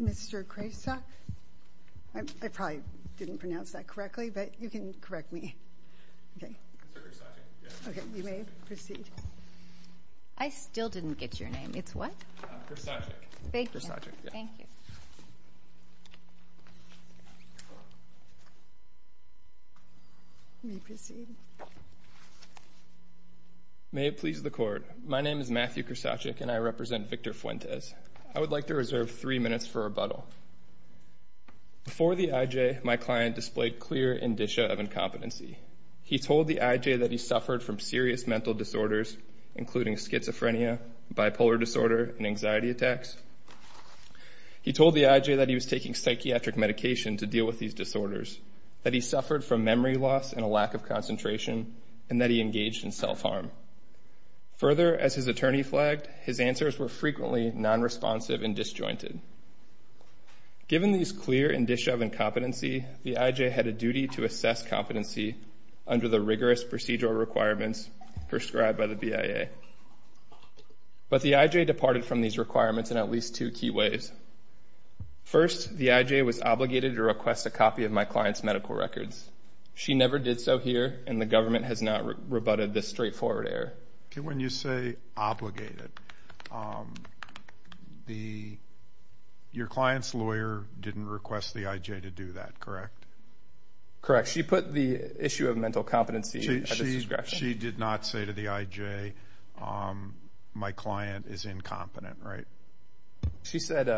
Mr. Kresak, I probably didn't pronounce that correctly, but you can correct me. Okay, you may proceed. I still didn't get your name. It's what? Kresak. Thank you. You may proceed. May it please the Court, my name is Matthew Kresak and I represent Victor Fuentes. I would like to reserve three minutes for rebuttal. Before the IJ, my client displayed clear indicia of incompetency. He told the IJ that he suffered from serious mental disorders, including schizophrenia, bipolar disorder, and anxiety attacks. He told the IJ that he was taking psychiatric medication to deal with these disorders, that he suffered from memory loss and a lack of concentration, and that he engaged in self-harm. Further, as his attorney flagged, his answers were frequently nonresponsive and disjointed. Given these clear indicia of incompetency, the IJ had a duty to assess competency under the rigorous procedural requirements prescribed by the BIA. But the IJ departed from these requirements in at least two key ways. First, the IJ was obligated to request a copy of my client's medical records. She never did so here, and the government has not rebutted this straightforward error. When you say obligated, your client's lawyer didn't request the IJ to do that, correct? Correct. She put the issue of mental competency at the discretion. She did not say to the IJ, my client is incompetent, right? She said,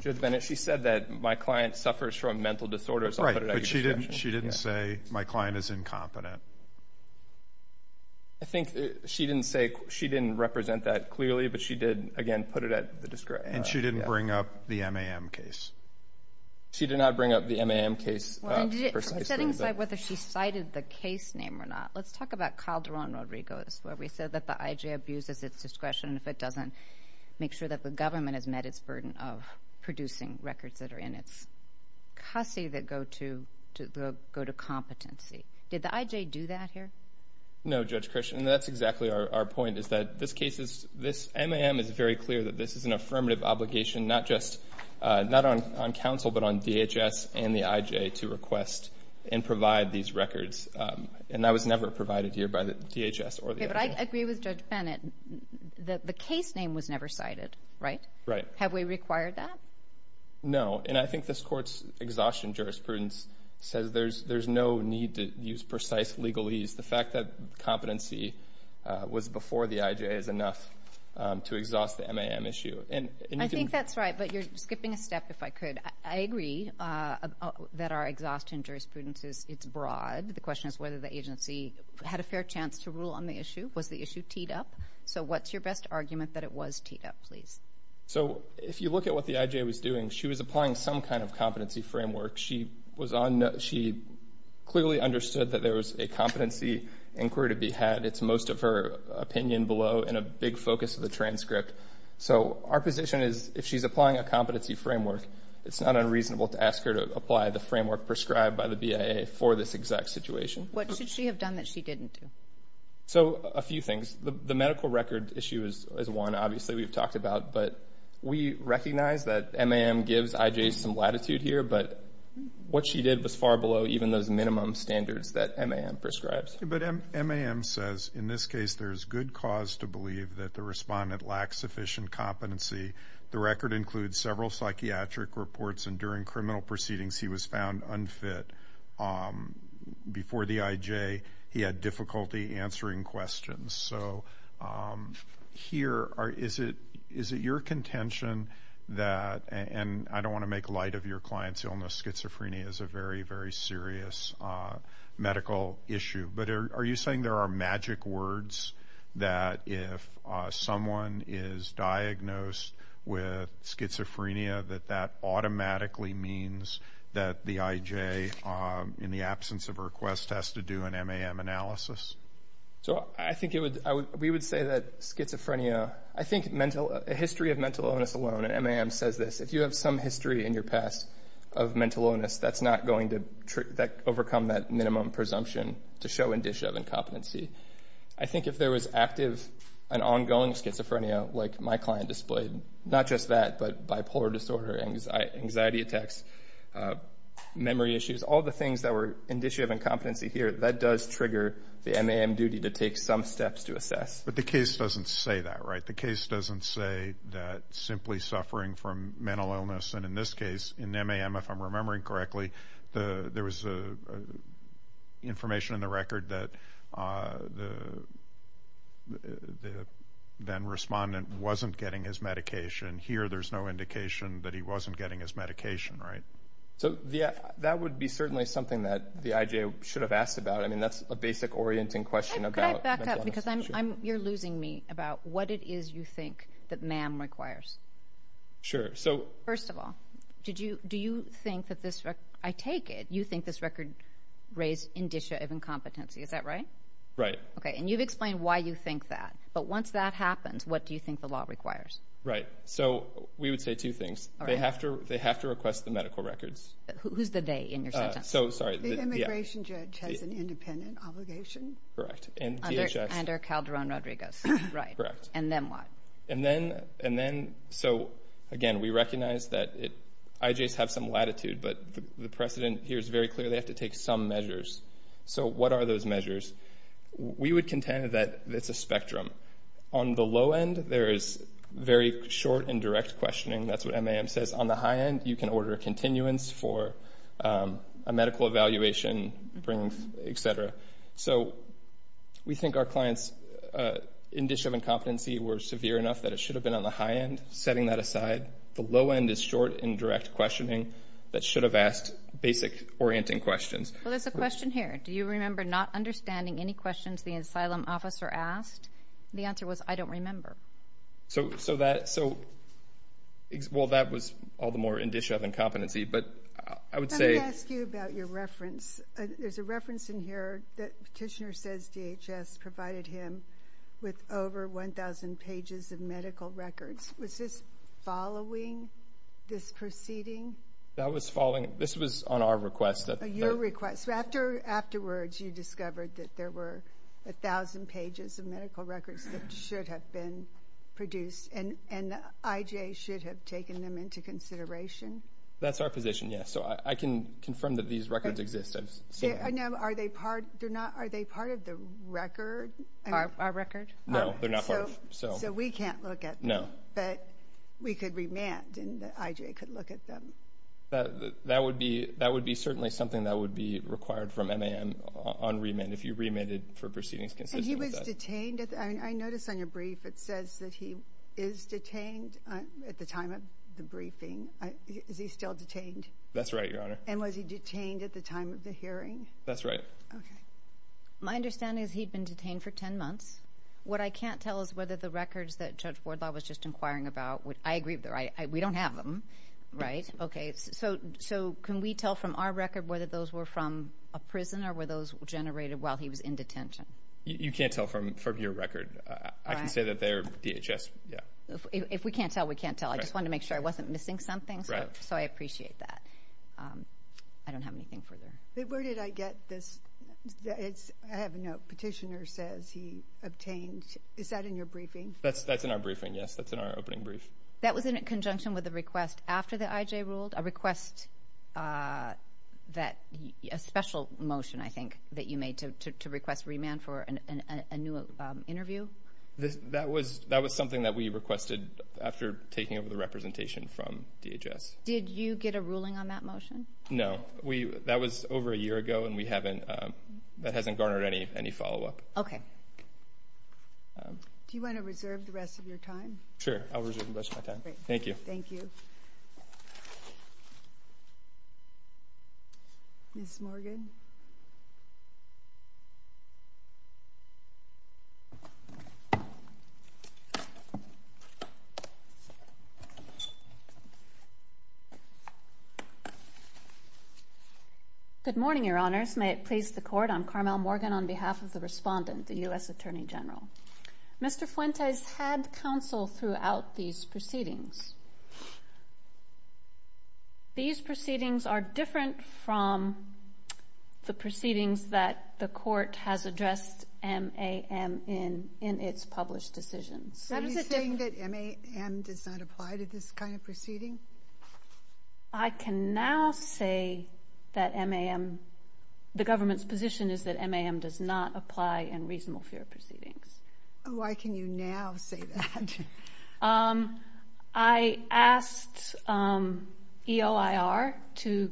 Judge Bennett, she said that my client suffers from mental disorders. Right, but she didn't say, my client is incompetent. I think she didn't represent that clearly, but she did, again, put it at the discretion. And she didn't bring up the MAM case. She did not bring up the MAM case precisely. Setting aside whether she cited the case name or not, let's talk about Calderon-Rodriguez, where we said that the IJ abuses its discretion if it doesn't make sure that the government has met its burden of producing records that are in its cussy that go to competency. Did the IJ do that here? No, Judge Christian. That's exactly our point is that this MAM is very clear that this is an affirmative obligation, not on counsel but on DHS and the IJ to request and provide these records. And that was never provided here by the DHS or the IJ. But I agree with Judge Bennett that the case name was never cited, right? Right. Have we required that? No. And I think this Court's exhaustion jurisprudence says there's no need to use precise legalese. The fact that competency was before the IJ is enough to exhaust the MAM issue. I think that's right, but you're skipping a step, if I could. I agree that our exhaustion jurisprudence is broad. The question is whether the agency had a fair chance to rule on the issue. Was the issue teed up? So what's your best argument that it was teed up, please? So if you look at what the IJ was doing, she was applying some kind of competency framework. She clearly understood that there was a competency inquiry to be had. It's most of her opinion below and a big focus of the transcript. So our position is if she's applying a competency framework, it's not unreasonable to ask her to apply the framework prescribed by the BIA for this exact situation. What should she have done that she didn't do? So a few things. The medical record issue is one, obviously, we've talked about. But we recognize that MAM gives IJs some latitude here, but what she did was far below even those minimum standards that MAM prescribes. But MAM says in this case there's good cause to believe that the respondent lacks sufficient competency. The record includes several psychiatric reports, and during criminal proceedings he was found unfit. Before the IJ, he had difficulty answering questions. So here, is it your contention that, and I don't want to make light of your client's illness, schizophrenia is a very, very serious medical issue. But are you saying there are magic words that if someone is diagnosed with schizophrenia, that that automatically means that the IJ, in the absence of a request, has to do an MAM analysis? So I think we would say that schizophrenia, I think a history of mental illness alone, and MAM says this, if you have some history in your past of mental illness, that's not going to overcome that minimum presumption to show indicia of incompetency. I think if there was active and ongoing schizophrenia like my client displayed, not just that, but bipolar disorder, anxiety attacks, memory issues, all the things that were indicia of incompetency here, that does trigger the MAM duty to take some steps to assess. But the case doesn't say that, right? The case doesn't say that simply suffering from mental illness, and in this case, in MAM, if I'm remembering correctly, there was information in the record that the then-respondent wasn't getting his medication. Here, there's no indication that he wasn't getting his medication, right? So that would be certainly something that the IJ should have asked about. I mean, that's a basic orienting question about mental illness. Could I back up? Because you're losing me about what it is you think that MAM requires. Sure. First of all, do you think that this record, I take it, you think this record raised indicia of incompetency, is that right? Right. Okay, and you've explained why you think that, but once that happens, what do you think the law requires? Right. So we would say two things. All right. They have to request the medical records. Who's the they in your sentence? So, sorry. The immigration judge has an independent obligation. Correct. Under Calderon-Rodriguez. Right. Correct. And then what? And then, so again, we recognize that IJs have some latitude, but the precedent here is very clear. They have to take some measures. So what are those measures? We would contend that it's a spectrum. On the low end, there is very short and direct questioning. That's what MAM says. On the high end, you can order continuance for a medical evaluation, et cetera. So we think our clients in discharge of incompetency were severe enough that it should have been on the high end, setting that aside. The low end is short and direct questioning that should have asked basic orienting questions. Well, there's a question here. Do you remember not understanding any questions the asylum officer asked? The answer was, I don't remember. So, well, that was all the more in discharge of incompetency, but I would say. Let me ask you about your reference. There's a reference in here that Petitioner says DHS provided him with over 1,000 pages of medical records. Was this following this proceeding? That was following it. This was on our request. Your request. So afterwards you discovered that there were 1,000 pages of medical records that should have been produced, and IJs should have taken them into consideration? That's our position, yes. So I can confirm that these records exist. I know. Are they part of the record? Our record? No, they're not part of it. So we can't look at them. No. But we could remand and IJ could look at them. That would be certainly something that would be required from MAM on remand if you remanded for proceedings consistent with that. And he was detained? I noticed on your brief it says that he is detained at the time of the briefing. Is he still detained? That's right, Your Honor. And was he detained at the time of the hearing? That's right. Okay. My understanding is he'd been detained for 10 months. What I can't tell is whether the records that Judge Wardlaw was just inquiring about, I agree with her, we don't have them, right? Okay. So can we tell from our record whether those were from a prison or were those generated while he was in detention? You can't tell from your record. I can say that they're DHS. If we can't tell, we can't tell. I just wanted to make sure I wasn't missing something, so I appreciate that. I don't have anything further. Where did I get this? I have a note. Petitioner says he obtained. Is that in your briefing? That's in our briefing, yes. That's in our opening brief. That was in conjunction with a request after the IJ ruled? A request that a special motion, I think, that you made to request remand for a new interview? That was something that we requested after taking over the representation from DHS. Did you get a ruling on that motion? No. That was over a year ago, and that hasn't garnered any follow-up. Okay. Do you want to reserve the rest of your time? Sure, I'll reserve the rest of my time. Thank you. Thank you. Ms. Morgan? Good morning, Your Honors. May it please the Court, I'm Carmel Morgan on behalf of the respondent, the U.S. Attorney General. Mr. Fuentes had counsel throughout these proceedings. These proceedings are different from the proceedings that the Court has addressed MAM in its published decisions. Are you saying that MAM does not apply to this kind of proceeding? I can now say that MAM, the government's position is that MAM does not apply in reasonable fear proceedings. Why can you now say that? I asked EOIR to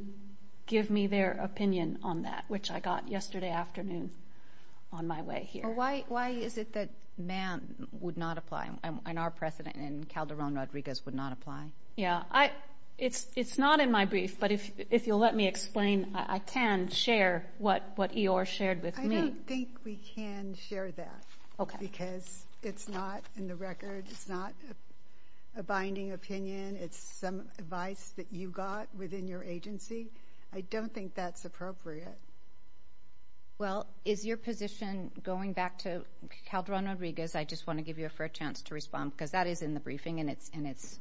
give me their opinion on that, which I got yesterday afternoon on my way here. Why is it that MAM would not apply, and our precedent in Calderon-Rodriguez would not apply? Yeah. It's not in my brief, but if you'll let me explain, I can share what EOIR shared with me. I don't think we can share that because it's not in the record. It's not a binding opinion. It's some advice that you got within your agency. I don't think that's appropriate. Well, is your position going back to Calderon-Rodriguez? I just want to give you a fair chance to respond because that is in the briefing, and it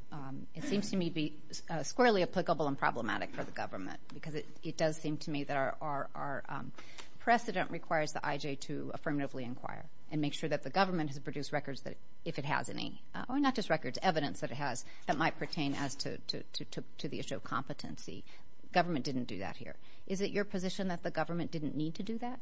seems to me to be squarely applicable and problematic for the government because it does seem to me that our precedent requires the IJ to affirmatively inquire and make sure that the government has produced records, if it has any, or not just records, evidence that it has that might pertain to the issue of competency. Government didn't do that here. Is it your position that the government didn't need to do that?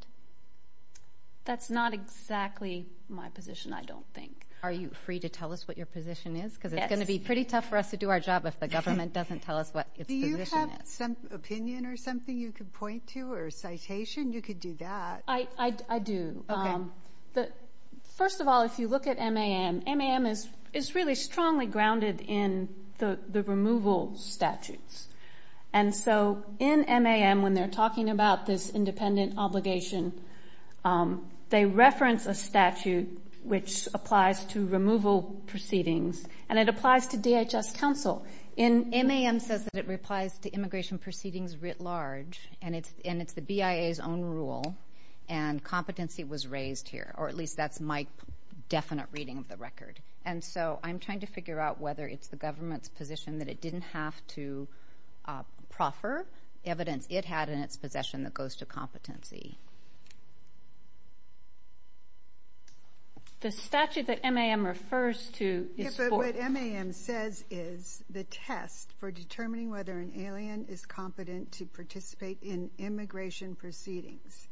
That's not exactly my position, I don't think. Are you free to tell us what your position is? Yes. Because it's going to be pretty tough for us to do our job if the government doesn't tell us what its position is. Do you have some opinion or something you could point to or a citation? You could do that. I do. Okay. First of all, if you look at MAM, MAM is really strongly grounded in the removal statutes. And so in MAM, when they're talking about this independent obligation, they reference a statute which applies to removal proceedings, and it applies to DHS counsel. MAM says that it applies to immigration proceedings writ large, and it's the BIA's own rule, and competency was raised here, or at least that's my definite reading of the record. And so I'm trying to figure out whether it's the government's position that it didn't have to proffer evidence it had in its possession that goes to competency. The statute that MAM refers to is for- But what MAM says is the test for determining whether an alien is competent to participate in immigration proceedings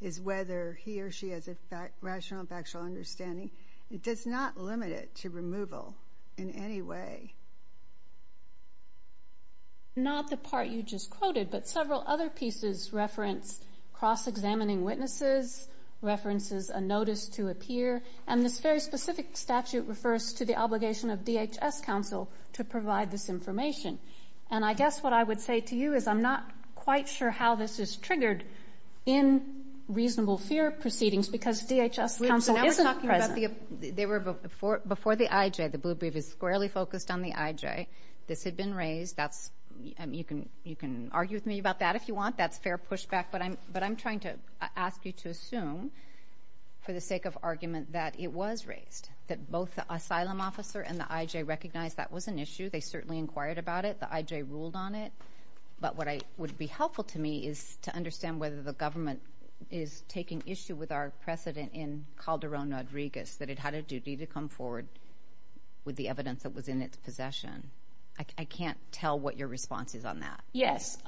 is whether he or she has a rational and factual understanding. It does not limit it to removal in any way. Not the part you just quoted, but several other pieces reference cross-examining witnesses, references a notice to appear, and this very specific statute refers to the obligation of DHS counsel to provide this information. And I guess what I would say to you is I'm not quite sure how this is triggered in reasonable fear proceedings because DHS counsel isn't present. Before the IJ, the Blue Brief is squarely focused on the IJ. This had been raised. You can argue with me about that if you want. That's fair pushback, but I'm trying to ask you to assume for the sake of argument that it was raised, that both the asylum officer and the IJ recognized that was an issue. They certainly inquired about it. The IJ ruled on it, but what would be helpful to me is to understand whether the government is taking issue with our precedent in Calderon-Rodriguez, that it had a duty to come forward with the evidence that was in its possession. I can't tell what your response is on that. Yes.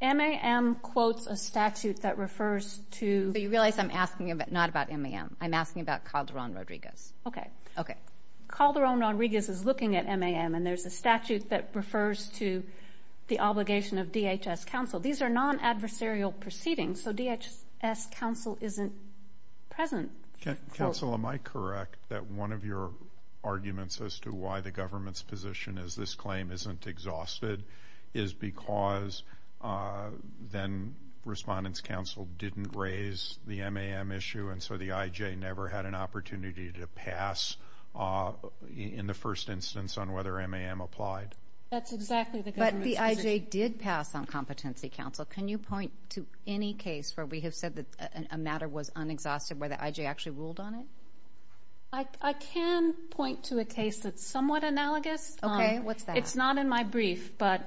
MAM quotes a statute that refers to— You realize I'm asking not about MAM. I'm asking about Calderon-Rodriguez. Okay. Okay. Calderon-Rodriguez is looking at MAM, and there's a statute that refers to the obligation of DHS counsel. These are non-adversarial proceedings, so DHS counsel isn't present. Counsel, am I correct that one of your arguments as to why the government's position is this claim isn't exhausted is because then Respondent's Counsel didn't raise the MAM issue, and so the IJ never had an opportunity to pass in the first instance on whether MAM applied? That's exactly the government's position. But the IJ did pass on Competency Counsel. Can you point to any case where we have said that a matter was unexhausted, where the IJ actually ruled on it? I can point to a case that's somewhat analogous. Okay, what's that? It's not in my brief, but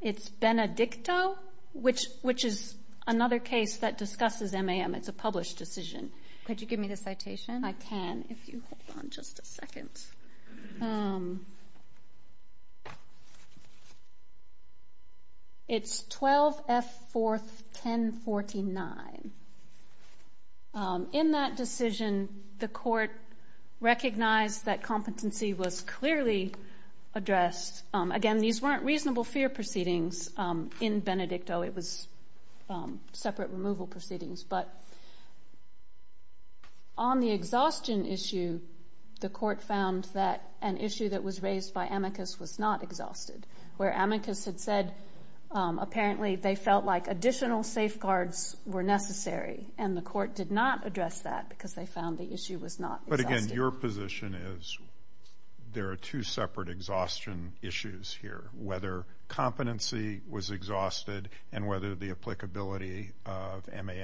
it's Benedicto, which is another case that discusses MAM. It's a published decision. Could you give me the citation? I can, if you hold on just a second. It's 12F41049. In that decision, the court recognized that competency was clearly addressed. Again, these weren't reasonable fear proceedings in Benedicto. It was separate removal proceedings. But on the exhaustion issue, the court found that an issue that was raised by Amicus was not exhausted, where Amicus had said apparently they felt like additional safeguards were necessary, and the court did not address that because they found the issue was not exhausted. But, again, your position is there are two separate exhaustion issues here, whether competency was exhausted and whether the applicability of MAM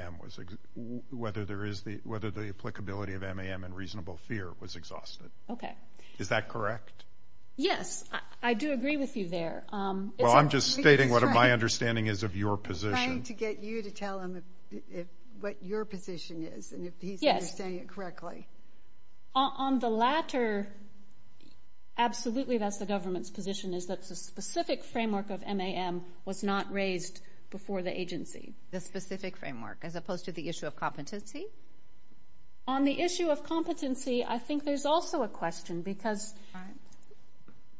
and reasonable fear was exhausted. Okay. Is that correct? Yes, I do agree with you there. Well, I'm just stating what my understanding is of your position. I'm trying to get you to tell him what your position is and if he's understanding it correctly. On the latter, absolutely that's the government's position, is that the specific framework of MAM was not raised before the agency. The specific framework, as opposed to the issue of competency? On the issue of competency, I think there's also a question, because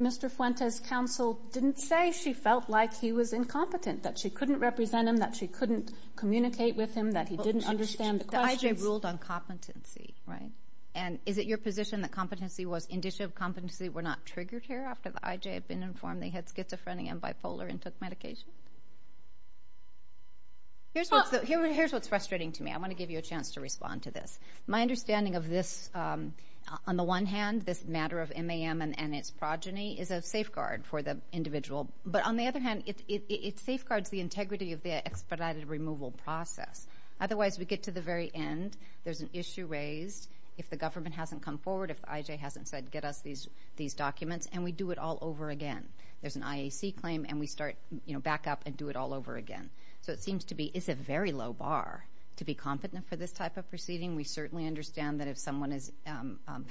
Mr. Fuentes' counsel didn't say she felt like he was incompetent, that she couldn't represent him, that she couldn't communicate with him, that he didn't understand the questions. The IJ ruled on competency, right? And is it your position that competency was indicative of competency were not triggered here after the IJ had been informed they had schizophrenia and bipolar and took medication? Here's what's frustrating to me. I want to give you a chance to respond to this. My understanding of this, on the one hand, this matter of MAM and its progeny, is a safeguard for the individual. But, on the other hand, it safeguards the integrity of the expedited removal process. Otherwise, we get to the very end. There's an issue raised. If the government hasn't come forward, if the IJ hasn't said get us these documents, and we do it all over again. There's an IAC claim, and we start back up and do it all over again. So it seems to be it's a very low bar to be competent for this type of proceeding. We certainly understand that if someone is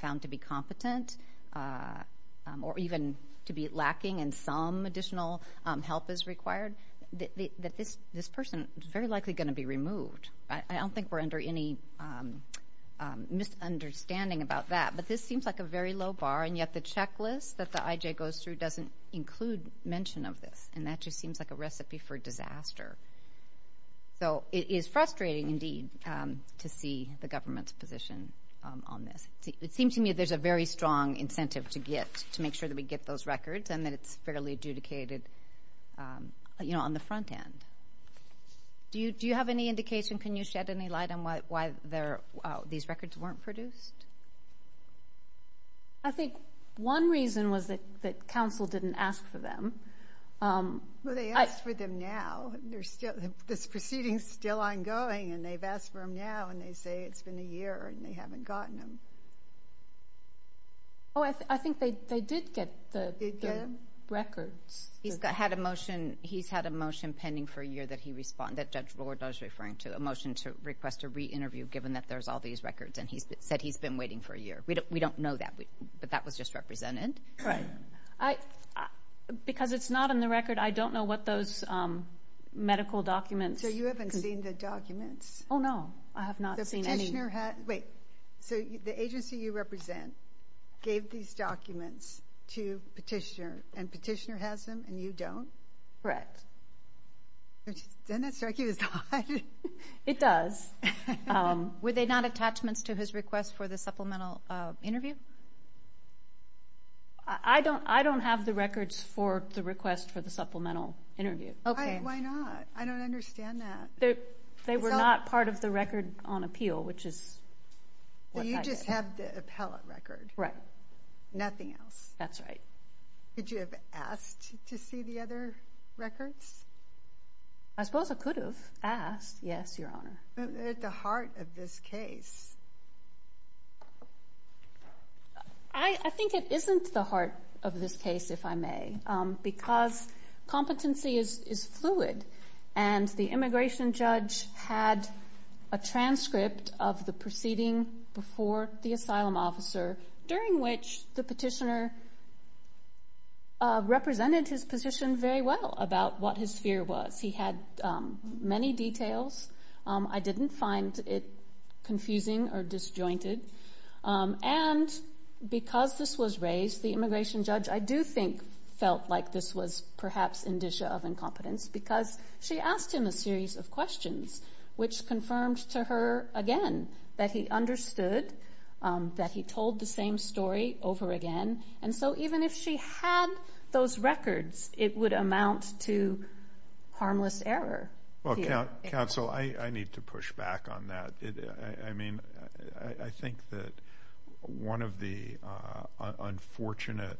found to be competent or even to be lacking and some additional help is required, that this person is very likely going to be removed. I don't think we're under any misunderstanding about that. But this seems like a very low bar, and yet the checklist that the IJ goes through doesn't include mention of this, and that just seems like a recipe for disaster. So it is frustrating, indeed, to see the government's position on this. It seems to me there's a very strong incentive to get, to make sure that we get those records and that it's fairly adjudicated on the front end. Do you have any indication, can you shed any light on why these records weren't produced? I think one reason was that counsel didn't ask for them. Well, they asked for them now. This proceeding is still ongoing, and they've asked for them now, and they say it's been a year and they haven't gotten them. Oh, I think they did get the records. He's had a motion pending for a year that Judge Lord was referring to, a motion to request a re-interview given that there's all these records, and he said he's been waiting for a year. We don't know that, but that was just represented. Right. Because it's not in the record, I don't know what those medical documents. So you haven't seen the documents? Oh, no, I have not seen any. So the agency you represent gave these documents to Petitioner, and Petitioner has them and you don't? Correct. Doesn't that strike you as odd? It does. Were they not attachments to his request for the supplemental interview? I don't have the records for the request for the supplemental interview. Why not? I don't understand that. They were not part of the record on appeal, which is what I did. So you just have the appellate record? Right. Nothing else? That's right. Could you have asked to see the other records? I suppose I could have asked, yes, Your Honor. But they're at the heart of this case. I think it isn't the heart of this case, if I may, because competency is fluid, and the immigration judge had a transcript of the proceeding before the asylum officer, during which the Petitioner represented his position very well about what his fear was. He had many details. I didn't find it confusing or disjointed. And because this was raised, the immigration judge, I do think, felt like this was perhaps indicia of incompetence because she asked him a series of questions, which confirmed to her again that he understood, that he told the same story over again. And so even if she had those records, it would amount to harmless error. Counsel, I need to push back on that. I mean, I think that one of the unfortunate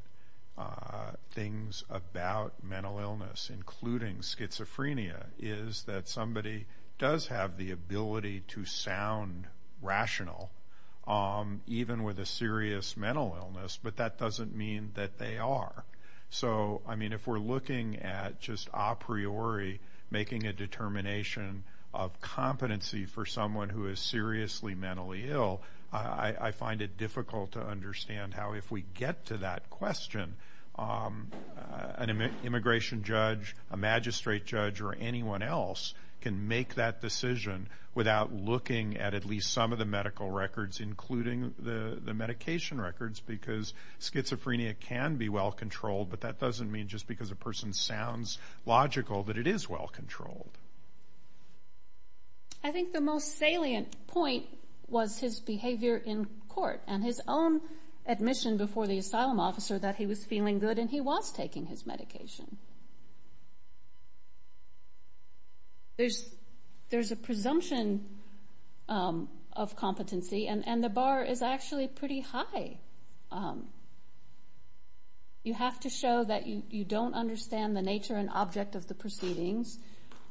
things about mental illness, including schizophrenia, is that somebody does have the ability to sound rational, even with a serious mental illness, but that doesn't mean that they are. So, I mean, if we're looking at just a priori, making a determination of competency for someone who is seriously mentally ill, I find it difficult to understand how, if we get to that question, an immigration judge, a magistrate judge, or anyone else can make that decision without looking at at least some of the medical records, including the medication records, because schizophrenia can be well controlled, but that doesn't mean just because a person sounds logical that it is well controlled. I think the most salient point was his behavior in court and his own admission before the asylum officer that he was feeling good and he was taking his medication. There's a presumption of competency, and the bar is actually pretty high. You have to show that you don't understand the nature and object of the proceedings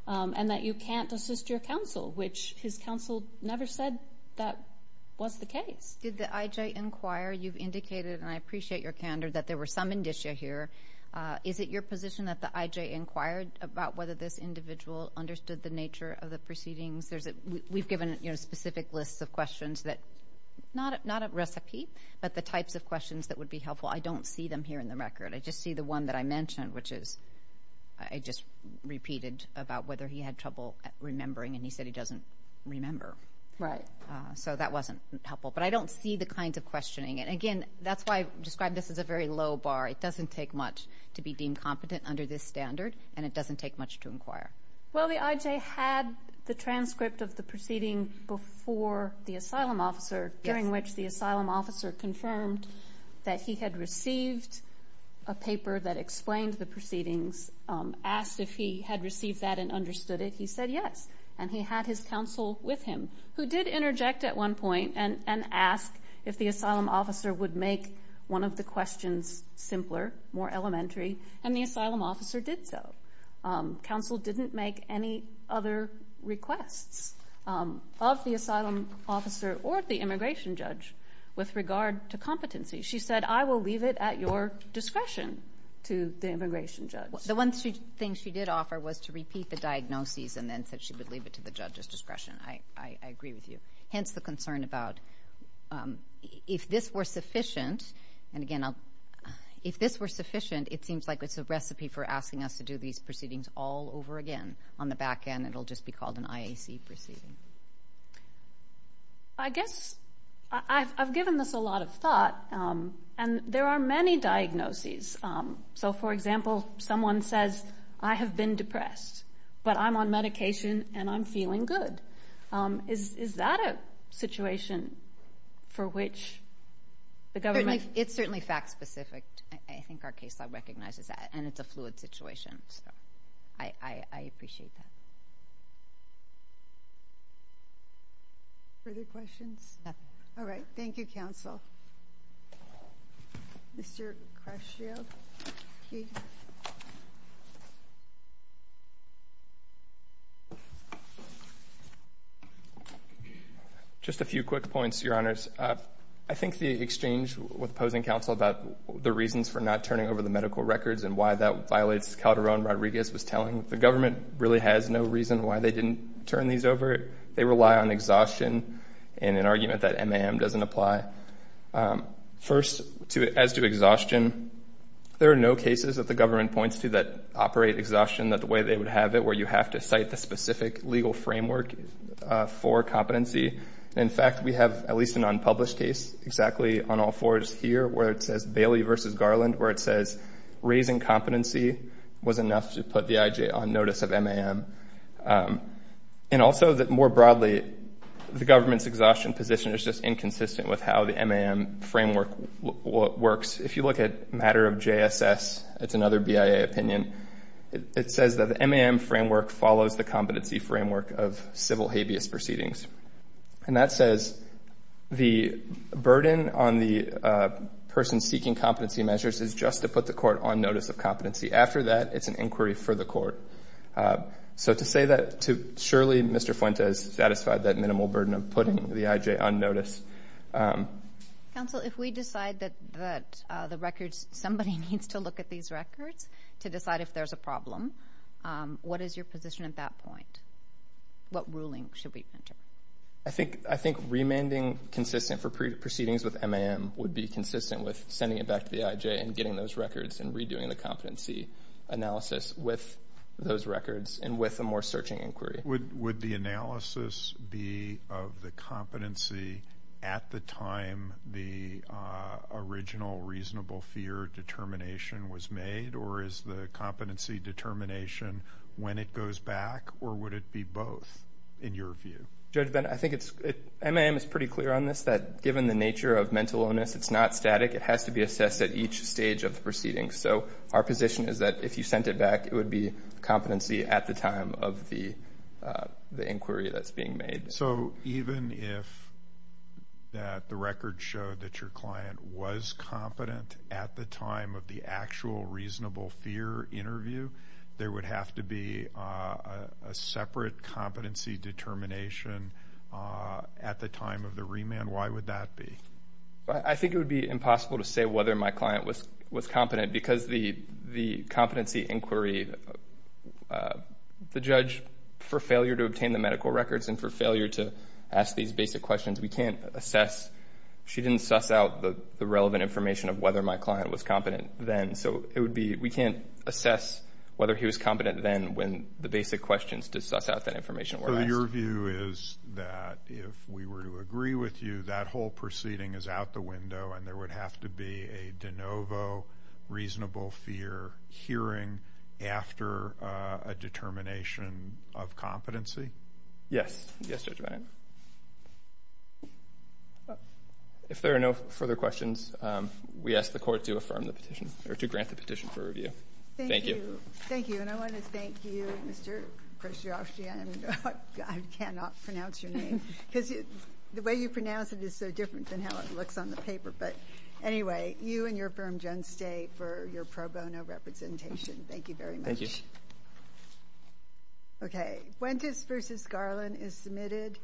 and that you can't assist your counsel, which his counsel never said that was the case. Did the IJ inquire? You've indicated, and I appreciate your candor, that there were some indicia here. Is it your position that the IJ inquired about whether this individual understood the nature of the proceedings? We've given specific lists of questions, not a recipe, but the types of questions that would be helpful. I don't see them here in the record. I just see the one that I mentioned, which is I just repeated about whether he had trouble remembering, and he said he doesn't remember, so that wasn't helpful. But I don't see the kinds of questioning. Again, that's why I've described this as a very low bar. It doesn't take much to be deemed competent under this standard, and it doesn't take much to inquire. Well, the IJ had the transcript of the proceeding before the asylum officer, during which the asylum officer confirmed that he had received a paper that explained the proceedings, asked if he had received that and understood it. He said yes, and he had his counsel with him, who did interject at one point and ask if the asylum officer would make one of the questions simpler, more elementary, and the asylum officer did so. Counsel didn't make any other requests of the asylum officer or the immigration judge with regard to competency. She said, I will leave it at your discretion to the immigration judge. The one thing she did offer was to repeat the diagnoses and then said she would leave it to the judge's discretion. I agree with you. Hence the concern about if this were sufficient, and again, if this were sufficient, it seems like it's a recipe for asking us to do these proceedings all over again. On the back end, it will just be called an IAC proceeding. I guess I've given this a lot of thought, and there are many diagnoses. So, for example, someone says, I have been depressed, but I'm on medication and I'm feeling good. Is that a situation for which the government? It's certainly fact-specific. I think our caseload recognizes that, and it's a fluid situation. I appreciate that. Further questions? All right. Thank you, counsel. Mr. Crescio. Just a few quick points, Your Honors. I think the exchange with opposing counsel about the reasons for not turning over the medical records and why that violates Calderon-Rodriguez was telling the government really has no reason why they didn't turn these over. They rely on exhaustion and an argument that MAM doesn't apply. First, as to exhaustion, there are no cases that the government points to that operate exhaustion the way they would have it, where you have to cite the specific legal framework for competency. In fact, we have at least an unpublished case, exactly on all fours here, where it says Bailey v. Garland, where it says raising competency was enough to put the IJ on notice of MAM. And also that, more broadly, the government's exhaustion position is just inconsistent with how the MAM framework works. If you look at matter of JSS, it's another BIA opinion, it says that the MAM framework follows the competency framework of civil habeas proceedings. And that says the burden on the person seeking competency measures is just to put the court on notice of competency. After that, it's an inquiry for the court. So to say that to Shirley, Mr. Fuentes, satisfied that minimal burden of putting the IJ on notice. Counsel, if we decide that somebody needs to look at these records to decide if there's a problem, what is your position at that point? What ruling should we enter? I think remanding consistent for proceedings with MAM would be consistent with sending it back to the IJ and getting those records and redoing the competency analysis with those records and with a more searching inquiry. Would the analysis be of the competency at the time the original reasonable fear determination was made? Or is the competency determination when it goes back? Or would it be both in your view? Judge Bennett, I think MAM is pretty clear on this, that given the nature of mental illness, it's not static. It has to be assessed at each stage of the proceedings. So our position is that if you sent it back, it would be competency at the time of the inquiry that's being made. So even if the record showed that your client was competent at the time of the actual reasonable fear interview, there would have to be a separate competency determination at the time of the remand. Why would that be? I think it would be impossible to say whether my client was competent because the competency inquiry, the judge, for failure to obtain the medical records and for failure to ask these basic questions, we can't assess. She didn't suss out the relevant information of whether my client was competent then. So we can't assess whether he was competent then when the basic questions to suss out that information were asked. So your view is that if we were to agree with you, that whole proceeding is out the window and there would have to be a de novo reasonable fear hearing after a determination of competency? Yes. Yes, Judge Bannon. If there are no further questions, we ask the Court to affirm the petition or to grant the petition for review. Thank you. Thank you. And I want to thank you, Mr. Krasioski. I cannot pronounce your name because the way you pronounce it is so different than how it looks on the paper. But anyway, you and your firm, Jones, stay for your pro bono representation. Thank you very much. Thank you. Okay. Fuentes v. Garland is submitted.